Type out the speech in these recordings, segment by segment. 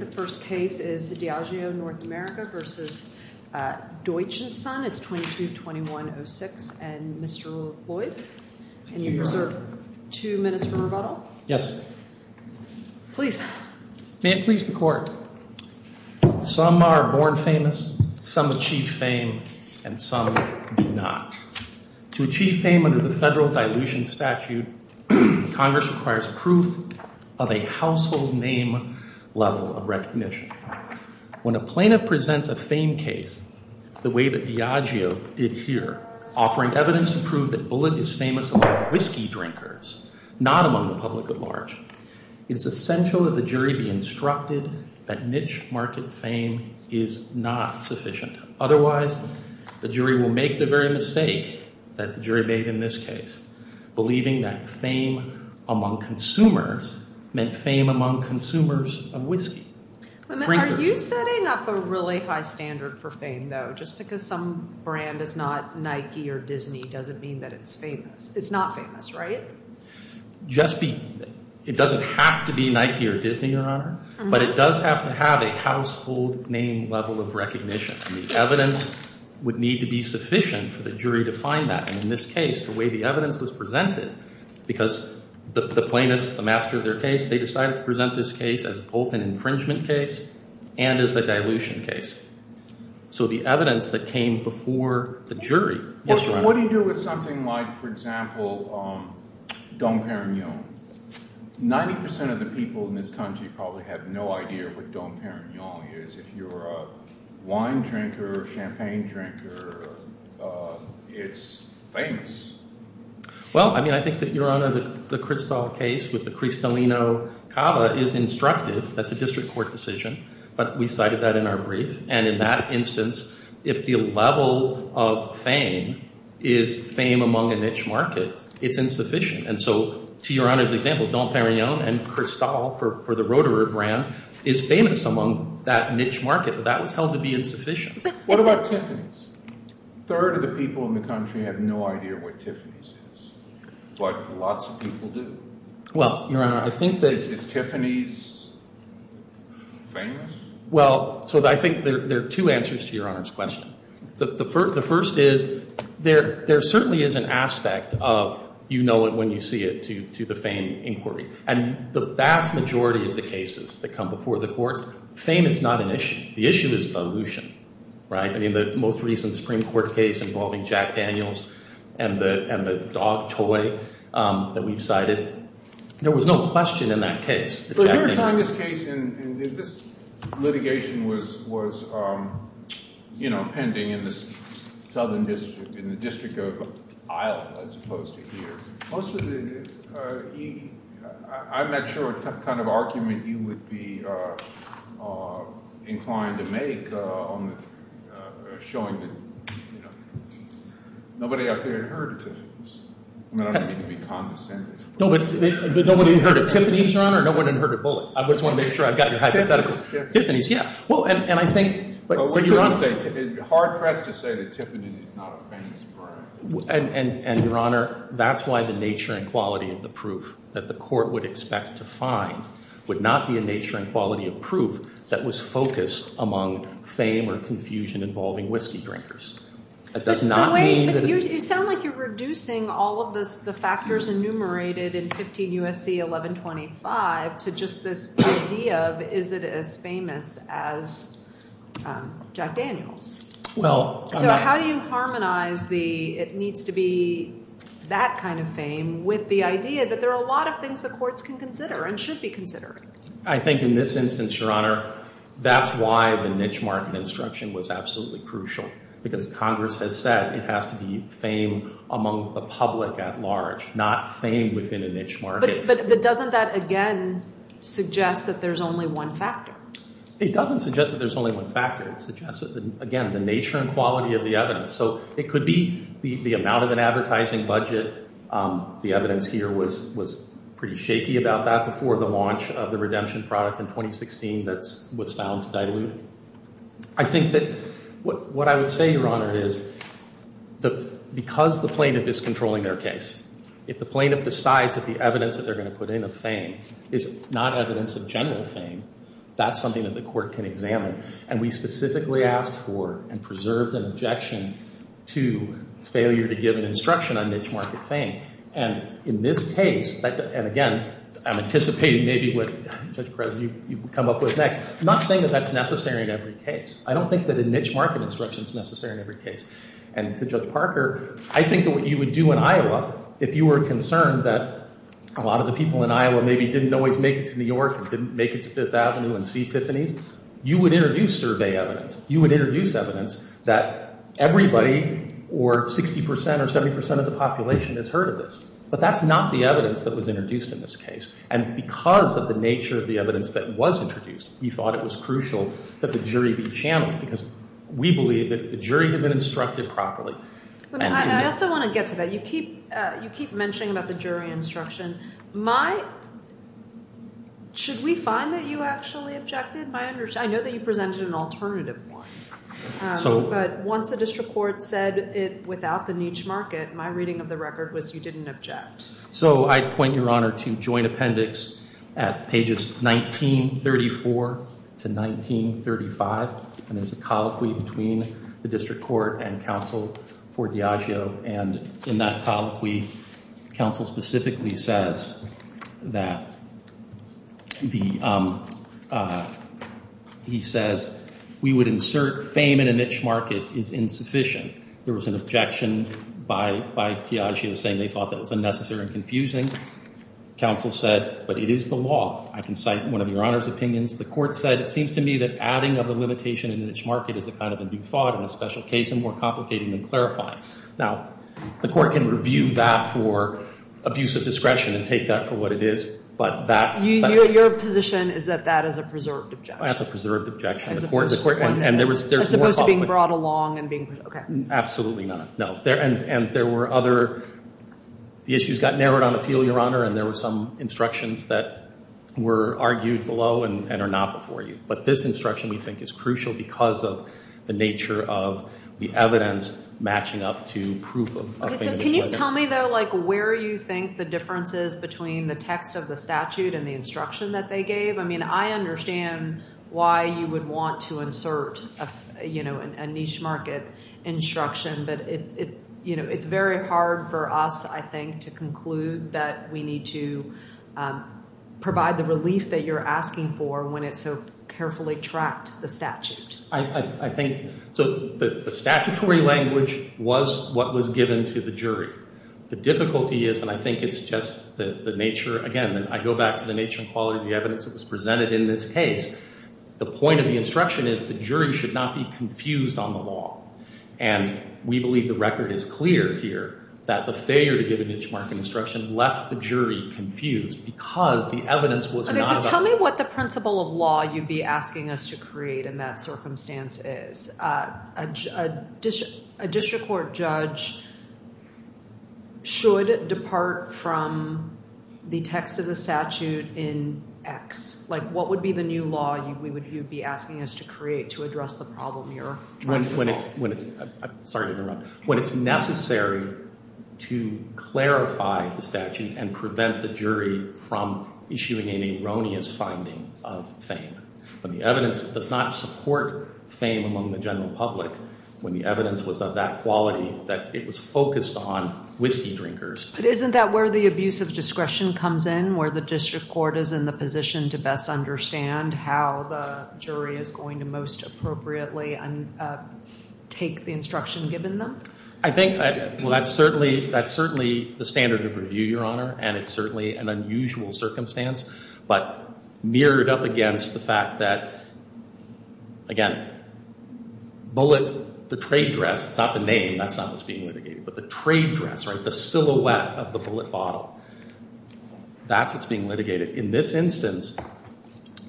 The first case is the Diageo North America v. Deutsch & Sons, it's 22-2106, and Mr. Lloyd. Can you reserve two minutes for rebuttal? Yes. Please. May it please the Court. Some are born famous, some achieve fame, and some do not. To achieve fame under the Federal Dilution Statute, Congress requires proof of a household name level of recognition. When a plaintiff presents a fame case the way that Diageo did here, offering evidence to prove that Bullitt is famous among whiskey drinkers, not among the public at large, it's essential that the jury be instructed that niche market fame is not sufficient. Otherwise, the jury will make the very mistake that the jury made in this case, believing that fame among consumers meant fame among consumers of whiskey drinkers. Are you setting up a really high standard for fame, though? Just because some brand is not Nike or Disney doesn't mean that it's famous. It's not famous, right? Just be—it doesn't have to be Nike or Disney, Your Honor, but it does have to have a household name level of recognition. The evidence would need to be sufficient for the jury to find that, and in this case, the evidence was presented because the plaintiffs, the master of their case, they decided to present this case as both an infringement case and as a dilution case. So the evidence that came before the jury— What do you do with something like, for example, Dom Perignon? Ninety percent of the people in this country probably have no idea what Dom Perignon is. If you're a wine drinker, champagne drinker, it's famous. Well, I mean, I think that, Your Honor, the Cristal case with the Cristalino Cava is instructive. That's a district court decision, but we cited that in our brief. And in that instance, if the level of fame is fame among a niche market, it's insufficient. And so, to Your Honor's example, Dom Perignon and Cristal, for the Rotary brand, is famous among that niche market, but that was held to be insufficient. What about Tiffany's? A third of the people in the country have no idea what Tiffany's is, but lots of people do. Well, Your Honor, I think that— Is Tiffany's famous? Well, so I think there are two answers to Your Honor's question. The first is, there certainly is an aspect of you know it when you see it to the fame inquiry. And the vast majority of the cases that come before the courts, fame is not an issue. The issue is dilution, right? I mean, the most recent Supreme Court case involving Jack Daniels and the dog toy that we've cited, there was no question in that case. But if you were trying this case and this litigation was, you know, pending in the Southern Most of the—I'm not sure what kind of argument you would be inclined to make on showing that, you know, nobody out there had heard of Tiffany's. I mean, I don't mean to be condescending. Nobody had heard of Tiffany's, Your Honor? No one had heard of Bullock. I just want to make sure I've got your hypothetical. Tiffany's, yeah. Well, and I think— Hard pressed to say that Tiffany's is not a famous brand. And, Your Honor, that's why the nature and quality of the proof that the court would expect to find would not be a nature and quality of proof that was focused among fame or confusion involving whiskey drinkers. You sound like you're reducing all of the factors enumerated in 15 U.S.C. 1125 to just this idea of is it as famous as Jack Daniels? Well— So how do you harmonize the it needs to be that kind of fame with the idea that there are a lot of things the courts can consider and should be considering? I think in this instance, Your Honor, that's why the niche market instruction was absolutely crucial because Congress has said it has to be fame among the public at large, not fame within a niche market. But doesn't that, again, suggest that there's only one factor? It doesn't suggest that there's only one factor. It suggests, again, the nature and quality of the evidence. So it could be the amount of an advertising budget. The evidence here was pretty shaky about that before the launch of the redemption product in 2016 that was found diluted. I think that what I would say, Your Honor, is because the plaintiff is controlling their case, if the plaintiff decides that the evidence that they're going to put in of fame is not evidence of general fame, that's something that the court can examine. And we specifically asked for and preserved an objection to failure to give an instruction on niche market fame. And in this case, and again, I'm anticipating maybe what, Judge Perez, you come up with next, not saying that that's necessary in every case. I don't think that a niche market instruction is necessary in every case. And to Judge Parker, I think that what you would do in Iowa, if you were concerned that a lot of the people in Iowa maybe didn't always make it to New York and didn't make it to Fifth Street, you would introduce survey evidence. You would introduce evidence that everybody or 60 percent or 70 percent of the population has heard of this. But that's not the evidence that was introduced in this case. And because of the nature of the evidence that was introduced, we thought it was crucial that the jury be channeled because we believe that the jury had been instructed properly. But I also want to get to that. You keep mentioning about the jury instruction. Should we find that you actually objected? I know that you presented an alternative one. But once the district court said it without the niche market, my reading of the record was you didn't object. So I'd point your honor to joint appendix at pages 1934 to 1935. And there's a colloquy between the district court and counsel for Diageo. And in that colloquy, counsel specifically says that he says we would insert fame in a niche market is insufficient. There was an objection by Diageo saying they thought that was unnecessary and confusing. Counsel said, but it is the law. I can cite one of your honor's opinions. The court said, it seems to me that adding of the limitation in the niche market is a kind of a new thought in a special case and more complicating than clarifying. Now, the court can review that for abuse of discretion and take that for what it is. But your position is that that is a preserved objection? That's a preserved objection. As opposed to being brought along and being, OK. Absolutely not. No. And there were other, the issues got narrowed on appeal, your honor. And there were some instructions that were argued below and are not before you. But this instruction, we think, is crucial because of the nature of the evidence matching up to proof of fame and neglect. OK, so can you tell me, though, like where you think the difference is between the text of the statute and the instruction that they gave? I mean, I understand why you would want to insert a niche market instruction. But it's very hard for us, I think, to conclude that we need to provide the relief that you're asking for when it's so carefully tracked, the statute. I think, so the statutory language was what was given to the jury. The difficulty is, and I think it's just the nature, again, I go back to the nature and quality of the evidence that was presented in this case. The point of the instruction is the jury should not be confused on the law. And we believe the record is clear here that the failure to give a niche market instruction left the jury confused because the evidence was not about. Tell me what the principle of law you'd be asking us to create in that circumstance is. A district court judge should depart from the text of the statute in X. Like, what would be the new law you would be asking us to create to address the problem you're trying to solve? When it's necessary to clarify the statute and prevent the jury from issuing an erroneous finding of fame. But the evidence does not support fame among the general public when the evidence was of that quality that it was focused on whiskey drinkers. But isn't that where the abuse of discretion comes in? Where the district court is in the position to best understand how the jury is going to most appropriately take the instruction given them? I think that's certainly the standard of review, Your Honor. And it's certainly an unusual circumstance. But mirrored up against the fact that, again, bullet the trade dress. It's not the name. That's not what's being litigated. But the trade dress, right? The silhouette of the bullet bottle. That's what's being litigated. In this instance,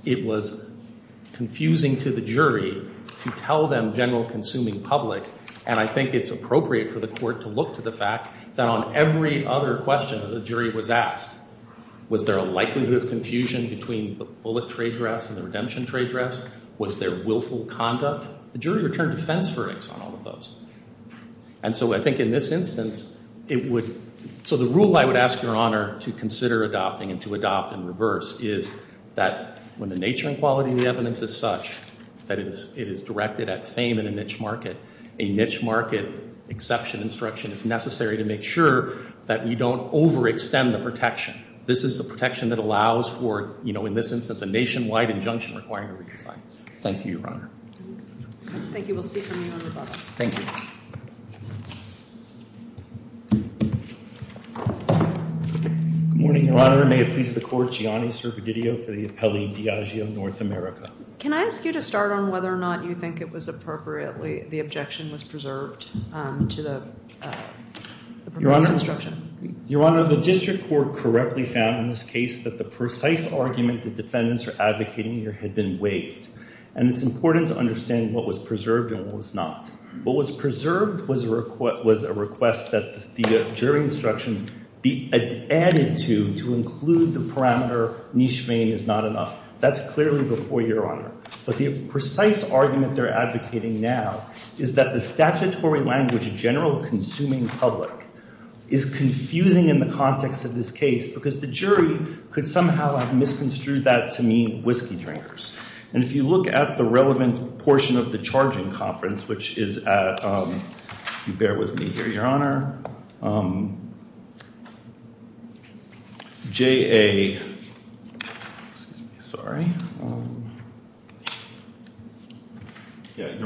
it was confusing to the jury to tell them general consuming public. And I think it's appropriate for the court to look to the fact that on every other question the jury was asked, was there a likelihood of confusion between the bullet trade dress and the redemption trade dress? Was there willful conduct? The jury returned defense verdicts on all of those. And so I think in this instance, it would. So the rule I would ask Your Honor to consider adopting and to adopt in reverse is that when the nature and quality of the evidence is such that it is directed at fame in a niche market, a niche market exception instruction is necessary to make sure that we don't overextend the protection. This is the protection that allows for, in this instance, a nationwide injunction requiring a redesign. Thank you, Your Honor. Thank you. We'll see from you in a moment. Thank you. Good morning, Your Honor. May it please the court, Gianni Servadidio for the appellee Diageo, North America. Can I ask you to start on whether or not you think it was appropriately, the objection was preserved to the proposed instruction? Your Honor, the district court correctly found in this case that the precise argument the defendants are advocating here had been waived. And it's important to understand what was preserved and what was not. What was preserved was a request that the jury instructions be added to, to include the parameter niche fame is not enough. That's clearly before you, Your Honor. But the precise argument they're advocating now is that the statutory language general consuming public is confusing in the context of this case because the jury could somehow have misconstrued that to mean whiskey drinkers. And if you look at the relevant portion of the charging conference, which is at, you bear with me here, Your Honor. Your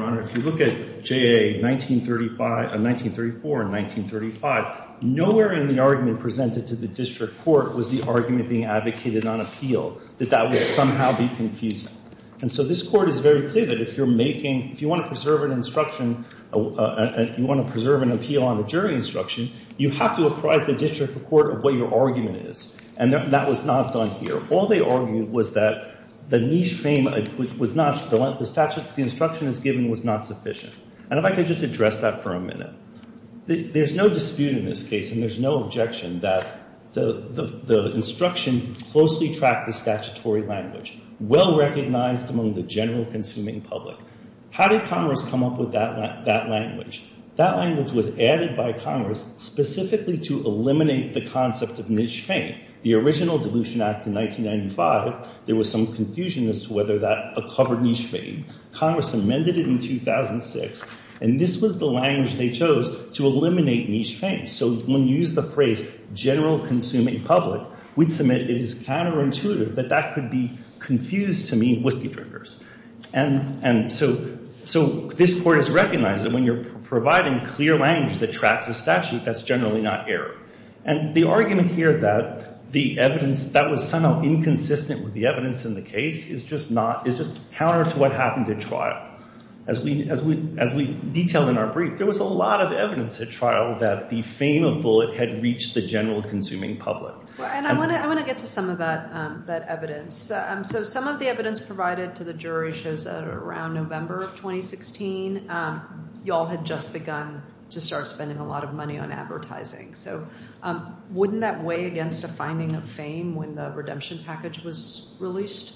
Honor, if you look at JA 1934 and 1935, nowhere in the argument presented to the district court was the argument being advocated on appeal, that that would somehow be confusing. And so this court is very clear that if you're making, if you want to preserve an instruction, if you want to preserve an appeal on a jury instruction, you have to apprise the district court of what your argument is. And that was not done here. All they argued was that the niche fame was not, the statute the instruction is given was not sufficient. And if I could just address that for a minute. There's no dispute in this case and there's no objection that the instruction closely tracked the statutory language, well recognized among the general consuming public. How did Congress come up with that language? That language was added by Congress specifically to eliminate the concept of niche fame. The original dilution act in 1995, there was some confusion as to whether that covered niche fame. Congress amended it in 2006. And this was the language they chose to eliminate niche fame. So when you use the phrase general consuming public, we'd submit it is counterintuitive that that could be confused to mean whiskey drinkers. And, and so, so this court has recognized that when you're providing clear language that tracks a statute, that's generally not error. And the argument here that the evidence that was somehow inconsistent with the evidence in the case is just not, is just counter to what happened at trial. As we, as we, as we detailed in our brief, there was a lot of evidence at trial that the fame of bullet had reached the general consuming public. And I want to, I want to get to some of that, that evidence. So some of the evidence provided to the jury shows that around November of 2016, y'all had just begun to start spending a lot of money on advertising. So wouldn't that weigh against a finding of fame when the redemption package was released?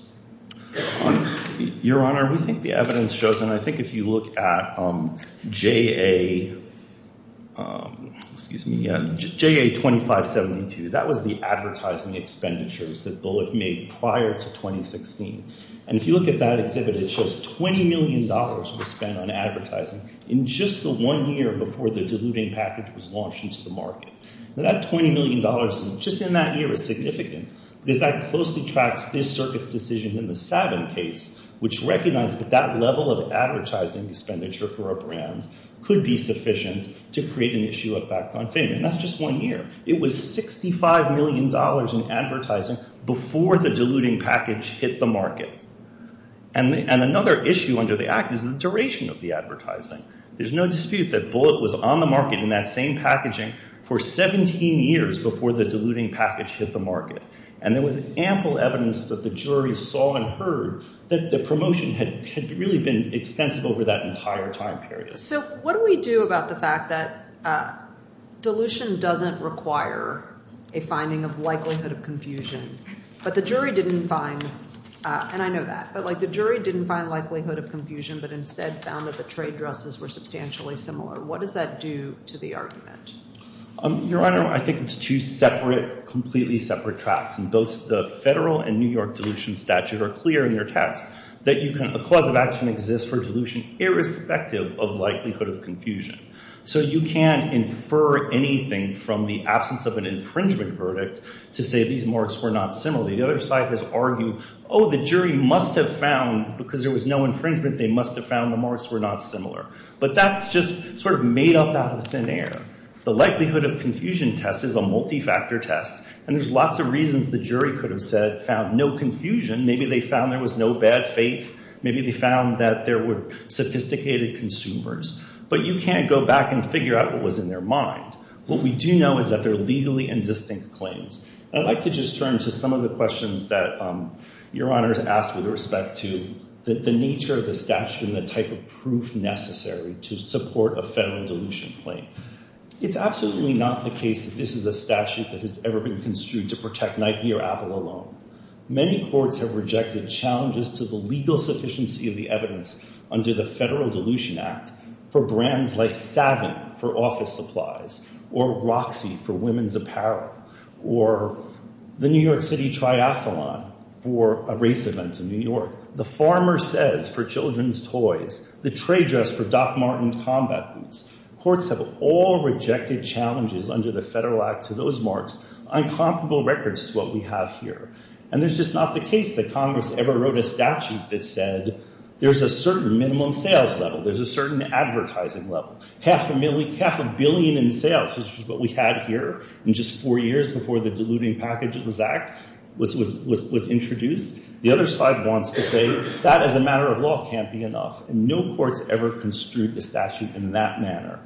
Your Honor, we think the evidence shows, and I think if you look at, um, JA, um, excuse me, prior to 2016, and if you look at that exhibit, it shows $20 million was spent on advertising in just the one year before the diluting package was launched into the market. And that $20 million just in that year is significant because that closely tracks this circuit's decision in the Savin case, which recognized that that level of advertising expenditure for a brand could be sufficient to create an issue of fact on fame. And that's just one year. It was $65 million in advertising before the diluting package hit the market. And another issue under the act is the duration of the advertising. There's no dispute that bullet was on the market in that same packaging for 17 years before the diluting package hit the market. And there was ample evidence that the jury saw and heard that the promotion had really been extensive over that entire time period. So what do we do about the fact that, uh, dilution doesn't require a finding of likelihood of confusion, but the jury didn't find, uh, and I know that, but like the jury didn't find likelihood of confusion, but instead found that the trade dresses were substantially similar. What does that do to the argument? Your Honor, I think it's two separate, completely separate tracks. And both the federal and New York dilution statute are clear in their text that you can, a cause of action exists for dilution irrespective of likelihood of confusion. So you can infer anything from the absence of an infringement verdict to say these marks were not similar. The other side has argued, oh, the jury must have found, because there was no infringement, they must have found the marks were not similar. But that's just sort of made up out of thin air. The likelihood of confusion test is a multi-factor test. And there's lots of reasons the jury could have said, found no confusion. Maybe they found there was no bad faith. Maybe they found that there were sophisticated consumers, but you can't go back and figure out what was in their mind. What we do know is that they're legally indistinct claims. I'd like to just turn to some of the questions that, um, your Honor's asked with respect to the nature of the statute and the type of proof necessary to support a federal dilution claim. It's absolutely not the case that this is a statute that has ever been construed to protect Nike or Apple alone. Many courts have rejected challenges to the legal sufficiency of the evidence under the Federal Dilution Act for brands like Savant for office supplies, or Roxy for women's apparel, or the New York City Triathlon for a race event in New York. The Farmer Says for children's toys. The Tray Dress for Doc Martin's combat boots. Courts have all rejected challenges under the Federal Act to those marks, incomparable records to what we have here. And there's just not the case that Congress ever wrote a statute that said there's a certain minimum sales level. There's a certain advertising level. Half a million, half a billion in sales, which is what we had here in just four years before the Diluting Packages Act was introduced. The other side wants to say that as a matter of law can't be enough, and no courts ever construed the statute in that manner.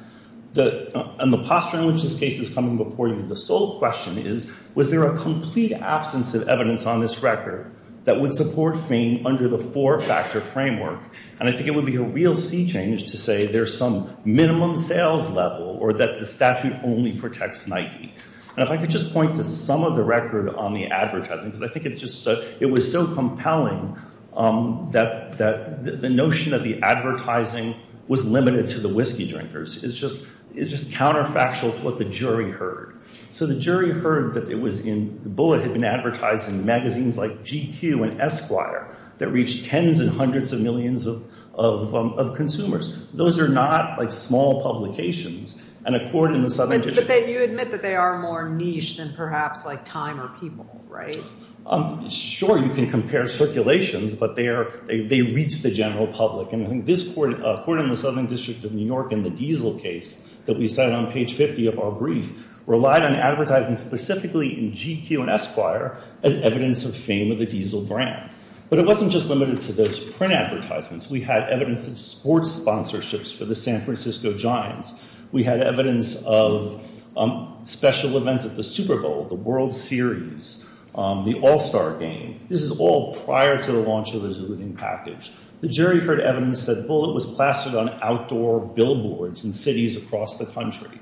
The posture in which this case is coming before you, the sole question is, was there a complete absence of evidence on this record that would support fame under the four-factor framework? And I think it would be a real sea change to say there's some minimum sales level or that the statute only protects Nike. And if I could just point to some of the record on the advertising, because I think it was so compelling that the notion that the advertising was limited to the whiskey drinkers is just counterfactual to what the jury heard. So the jury heard that it was in—Bullitt had been advertising magazines like GQ and Esquire that reached tens and hundreds of millions of consumers. Those are not like small publications. And a court in the Southern District— But you admit that they are more niche than perhaps like Time or People, right? Sure, you can compare circulations, but they reach the general public. And I think this court, a court in the Southern District of New York in the Diesel case that we cite on page 50 of our brief, relied on advertising specifically in GQ and Esquire as evidence of fame of the Diesel brand. But it wasn't just limited to those print advertisements. We had evidence of sports sponsorships for the San Francisco Giants. We had evidence of special events at the Super Bowl, the World Series, the All-Star Game. This is all prior to the launch of the Zulu package. The jury heard evidence that Bullitt was plastered on outdoor billboards in cities across the country.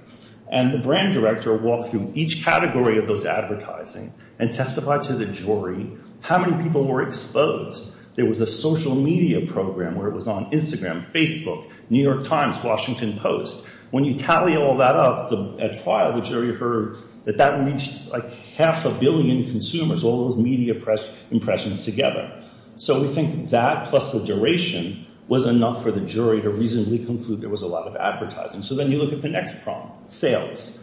And the brand director walked through each category of those advertising and testified to the jury how many people were exposed. There was a social media program where it was on Instagram, Facebook, New York Times, Washington Post. When you tally all that up at trial, the jury heard that that reached like half a billion consumers, all those media impressions together. So we think that plus the duration was enough for the jury to reasonably conclude there was a lot of advertising. So then you look at the next problem, sales.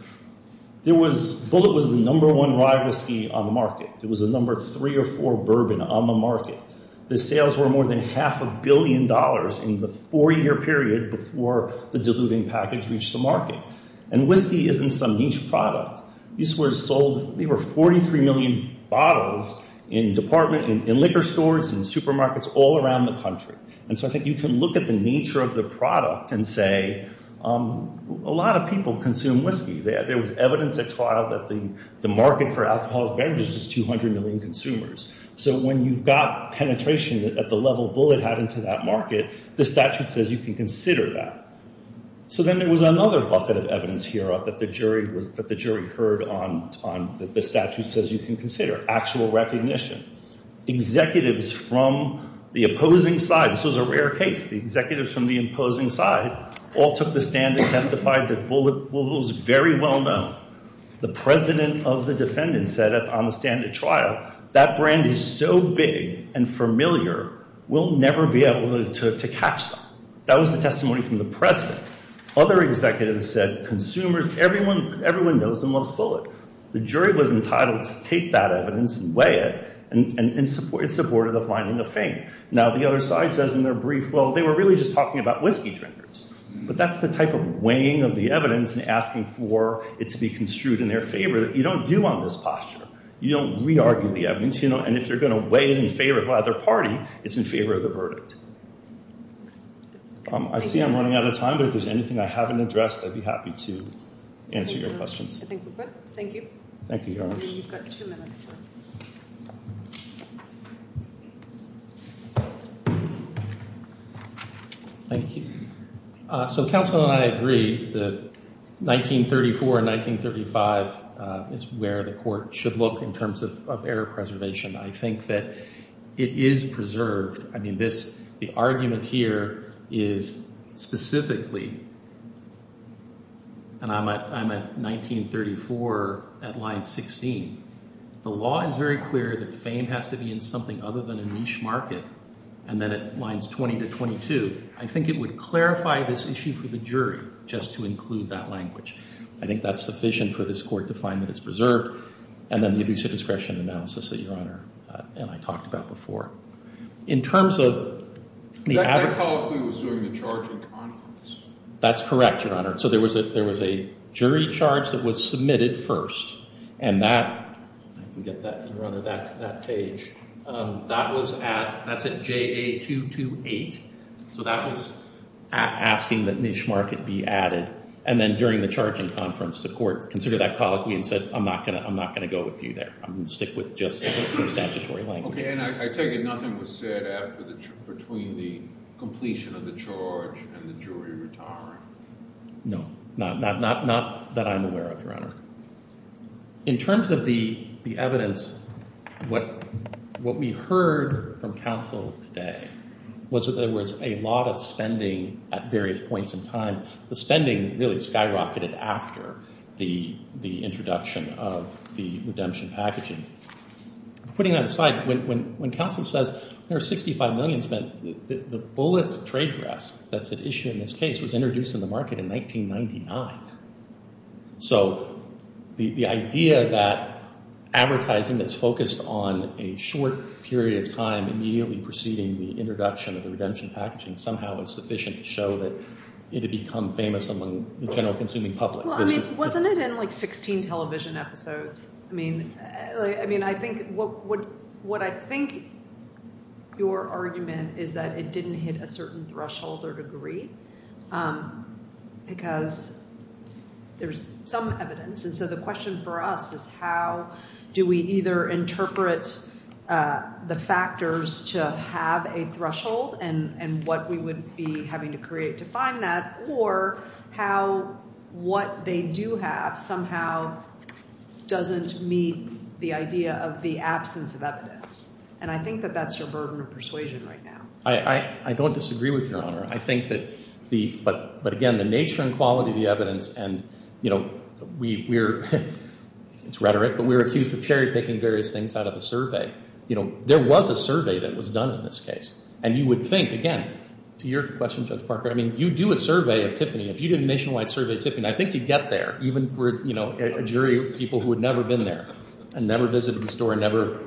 Bullitt was the number one rye whiskey on the market. It was the number three or four bourbon on the market. The sales were more than half a billion dollars in the four-year period before the diluting package reached the market. And whiskey isn't some niche product. These were sold, they were 43 million bottles in department, in liquor stores, in supermarkets all around the country. And so I think you can look at the nature of the product and say a lot of people consume whiskey. There was evidence at trial that the market for alcoholic beverages is 200 million consumers. So when you've got penetration at the level Bullitt had into that market, the statute says you can consider that. So then there was another bucket of evidence here that the jury heard on, that the statute says you can consider, actual recognition. Executives from the opposing side, this was a rare case, the executives from the imposing side all took the stand and testified that Bullitt was very well known. The president of the defendant said on the stand at trial, that brand is so big and familiar, we'll never be able to catch them. That was the testimony from the president. Other executives said, consumers, everyone knows and loves Bullitt. The jury was entitled to take that evidence and weigh it, and supported the finding of fame. Now the other side says in their brief, well, they were really just talking about whiskey drinkers. But that's the type of weighing of the evidence and asking for it to be construed in their favor that you don't do on this posture. You don't re-argue the evidence, and if you're going to weigh it in favor of either party, it's in favor of the verdict. I see I'm running out of time, but if there's anything I haven't addressed, I'd be happy to answer your questions. I think we're good. Thank you. Thank you, Your Honor. You've got two minutes. Thank you. So counsel and I agree that 1934 and 1935 is where the court should look in terms of error preservation. I think that it is preserved. I mean, the argument here is specifically, and I'm at 1934 at line 16. The law is very clear that fame has to be in something other than a niche market, and then at lines 20 to 22. I think it would clarify this issue for the jury just to include that language. I think that's sufficient for this court to find that it's preserved, and then the abusive discretion analysis that Your Honor and I talked about before. In terms of the- That colloquy was during the charging conference. That's correct, Your Honor. So there was a jury charge that was submitted first, and that, if we get that, Your Honor, that page, that's at JA 228. So that was asking that niche market be added, and then during the charging conference, the court considered that colloquy and said, I'm not going to go with you there. I'm going to stick with just the statutory language. Okay, and I take it nothing was said between the completion of the charge and the jury No, not that I'm aware of, Your Honor. In terms of the evidence, what we heard from counsel today was that there was a lot of spending at various points in time. The spending really skyrocketed after the introduction of the redemption packaging. Putting that aside, when counsel says there are 65 million spent, the bullet trade dress that's at issue in this case was introduced in the market in 1999. So the idea that advertising is focused on a short period of time immediately preceding the introduction of the redemption packaging somehow is sufficient to show that it had become famous among the general consuming public. Well, I mean, wasn't it in like 16 television episodes? I mean, I think what I think your argument is that it didn't hit a certain threshold or degree because there's some evidence. And so the question for us is how do we either interpret the factors to have a threshold and what we would be having to create to find that or how what they do have somehow doesn't meet the idea of the absence of evidence. And I think that that's your burden of persuasion right now. I don't disagree with Your Honor. I think that the, but again, the nature and quality of the evidence and, you know, we're, it's rhetoric, but we're accused of cherry picking various things out of a survey. You know, there was a survey that was done in this case. And you would think, again, to your question, Judge Parker, I mean, you do a survey of Tiffany. If you did a nationwide survey of Tiffany, I think you'd get there even for, you know, a jury of people who had never been there and never visited the store and never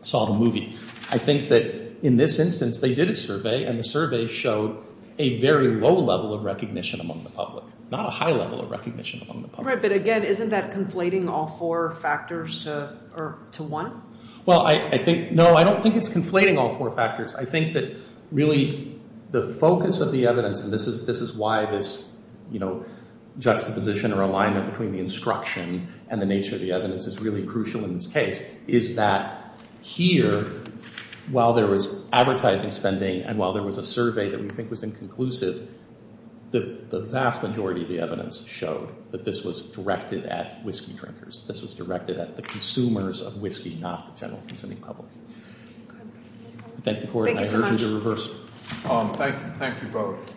saw the movie. I think that in this instance, they did a survey and the survey showed a very low level of recognition among the public, not a high level of recognition among the public. Right. But again, isn't that conflating all four factors to one? Well, I think, no, I don't think it's conflating all four factors. I think that really the focus of the evidence, and this is why this, you know, juxtaposition or alignment between the instruction and the nature of the evidence is really crucial in this case, is that here, while there was advertising spending and while there was a survey that we think was inconclusive, the vast majority of the evidence showed that this was directed at whiskey drinkers. This was directed at the consumers of whiskey, not the general consuming public. Thank the court. I urge you to reverse. Thank you both.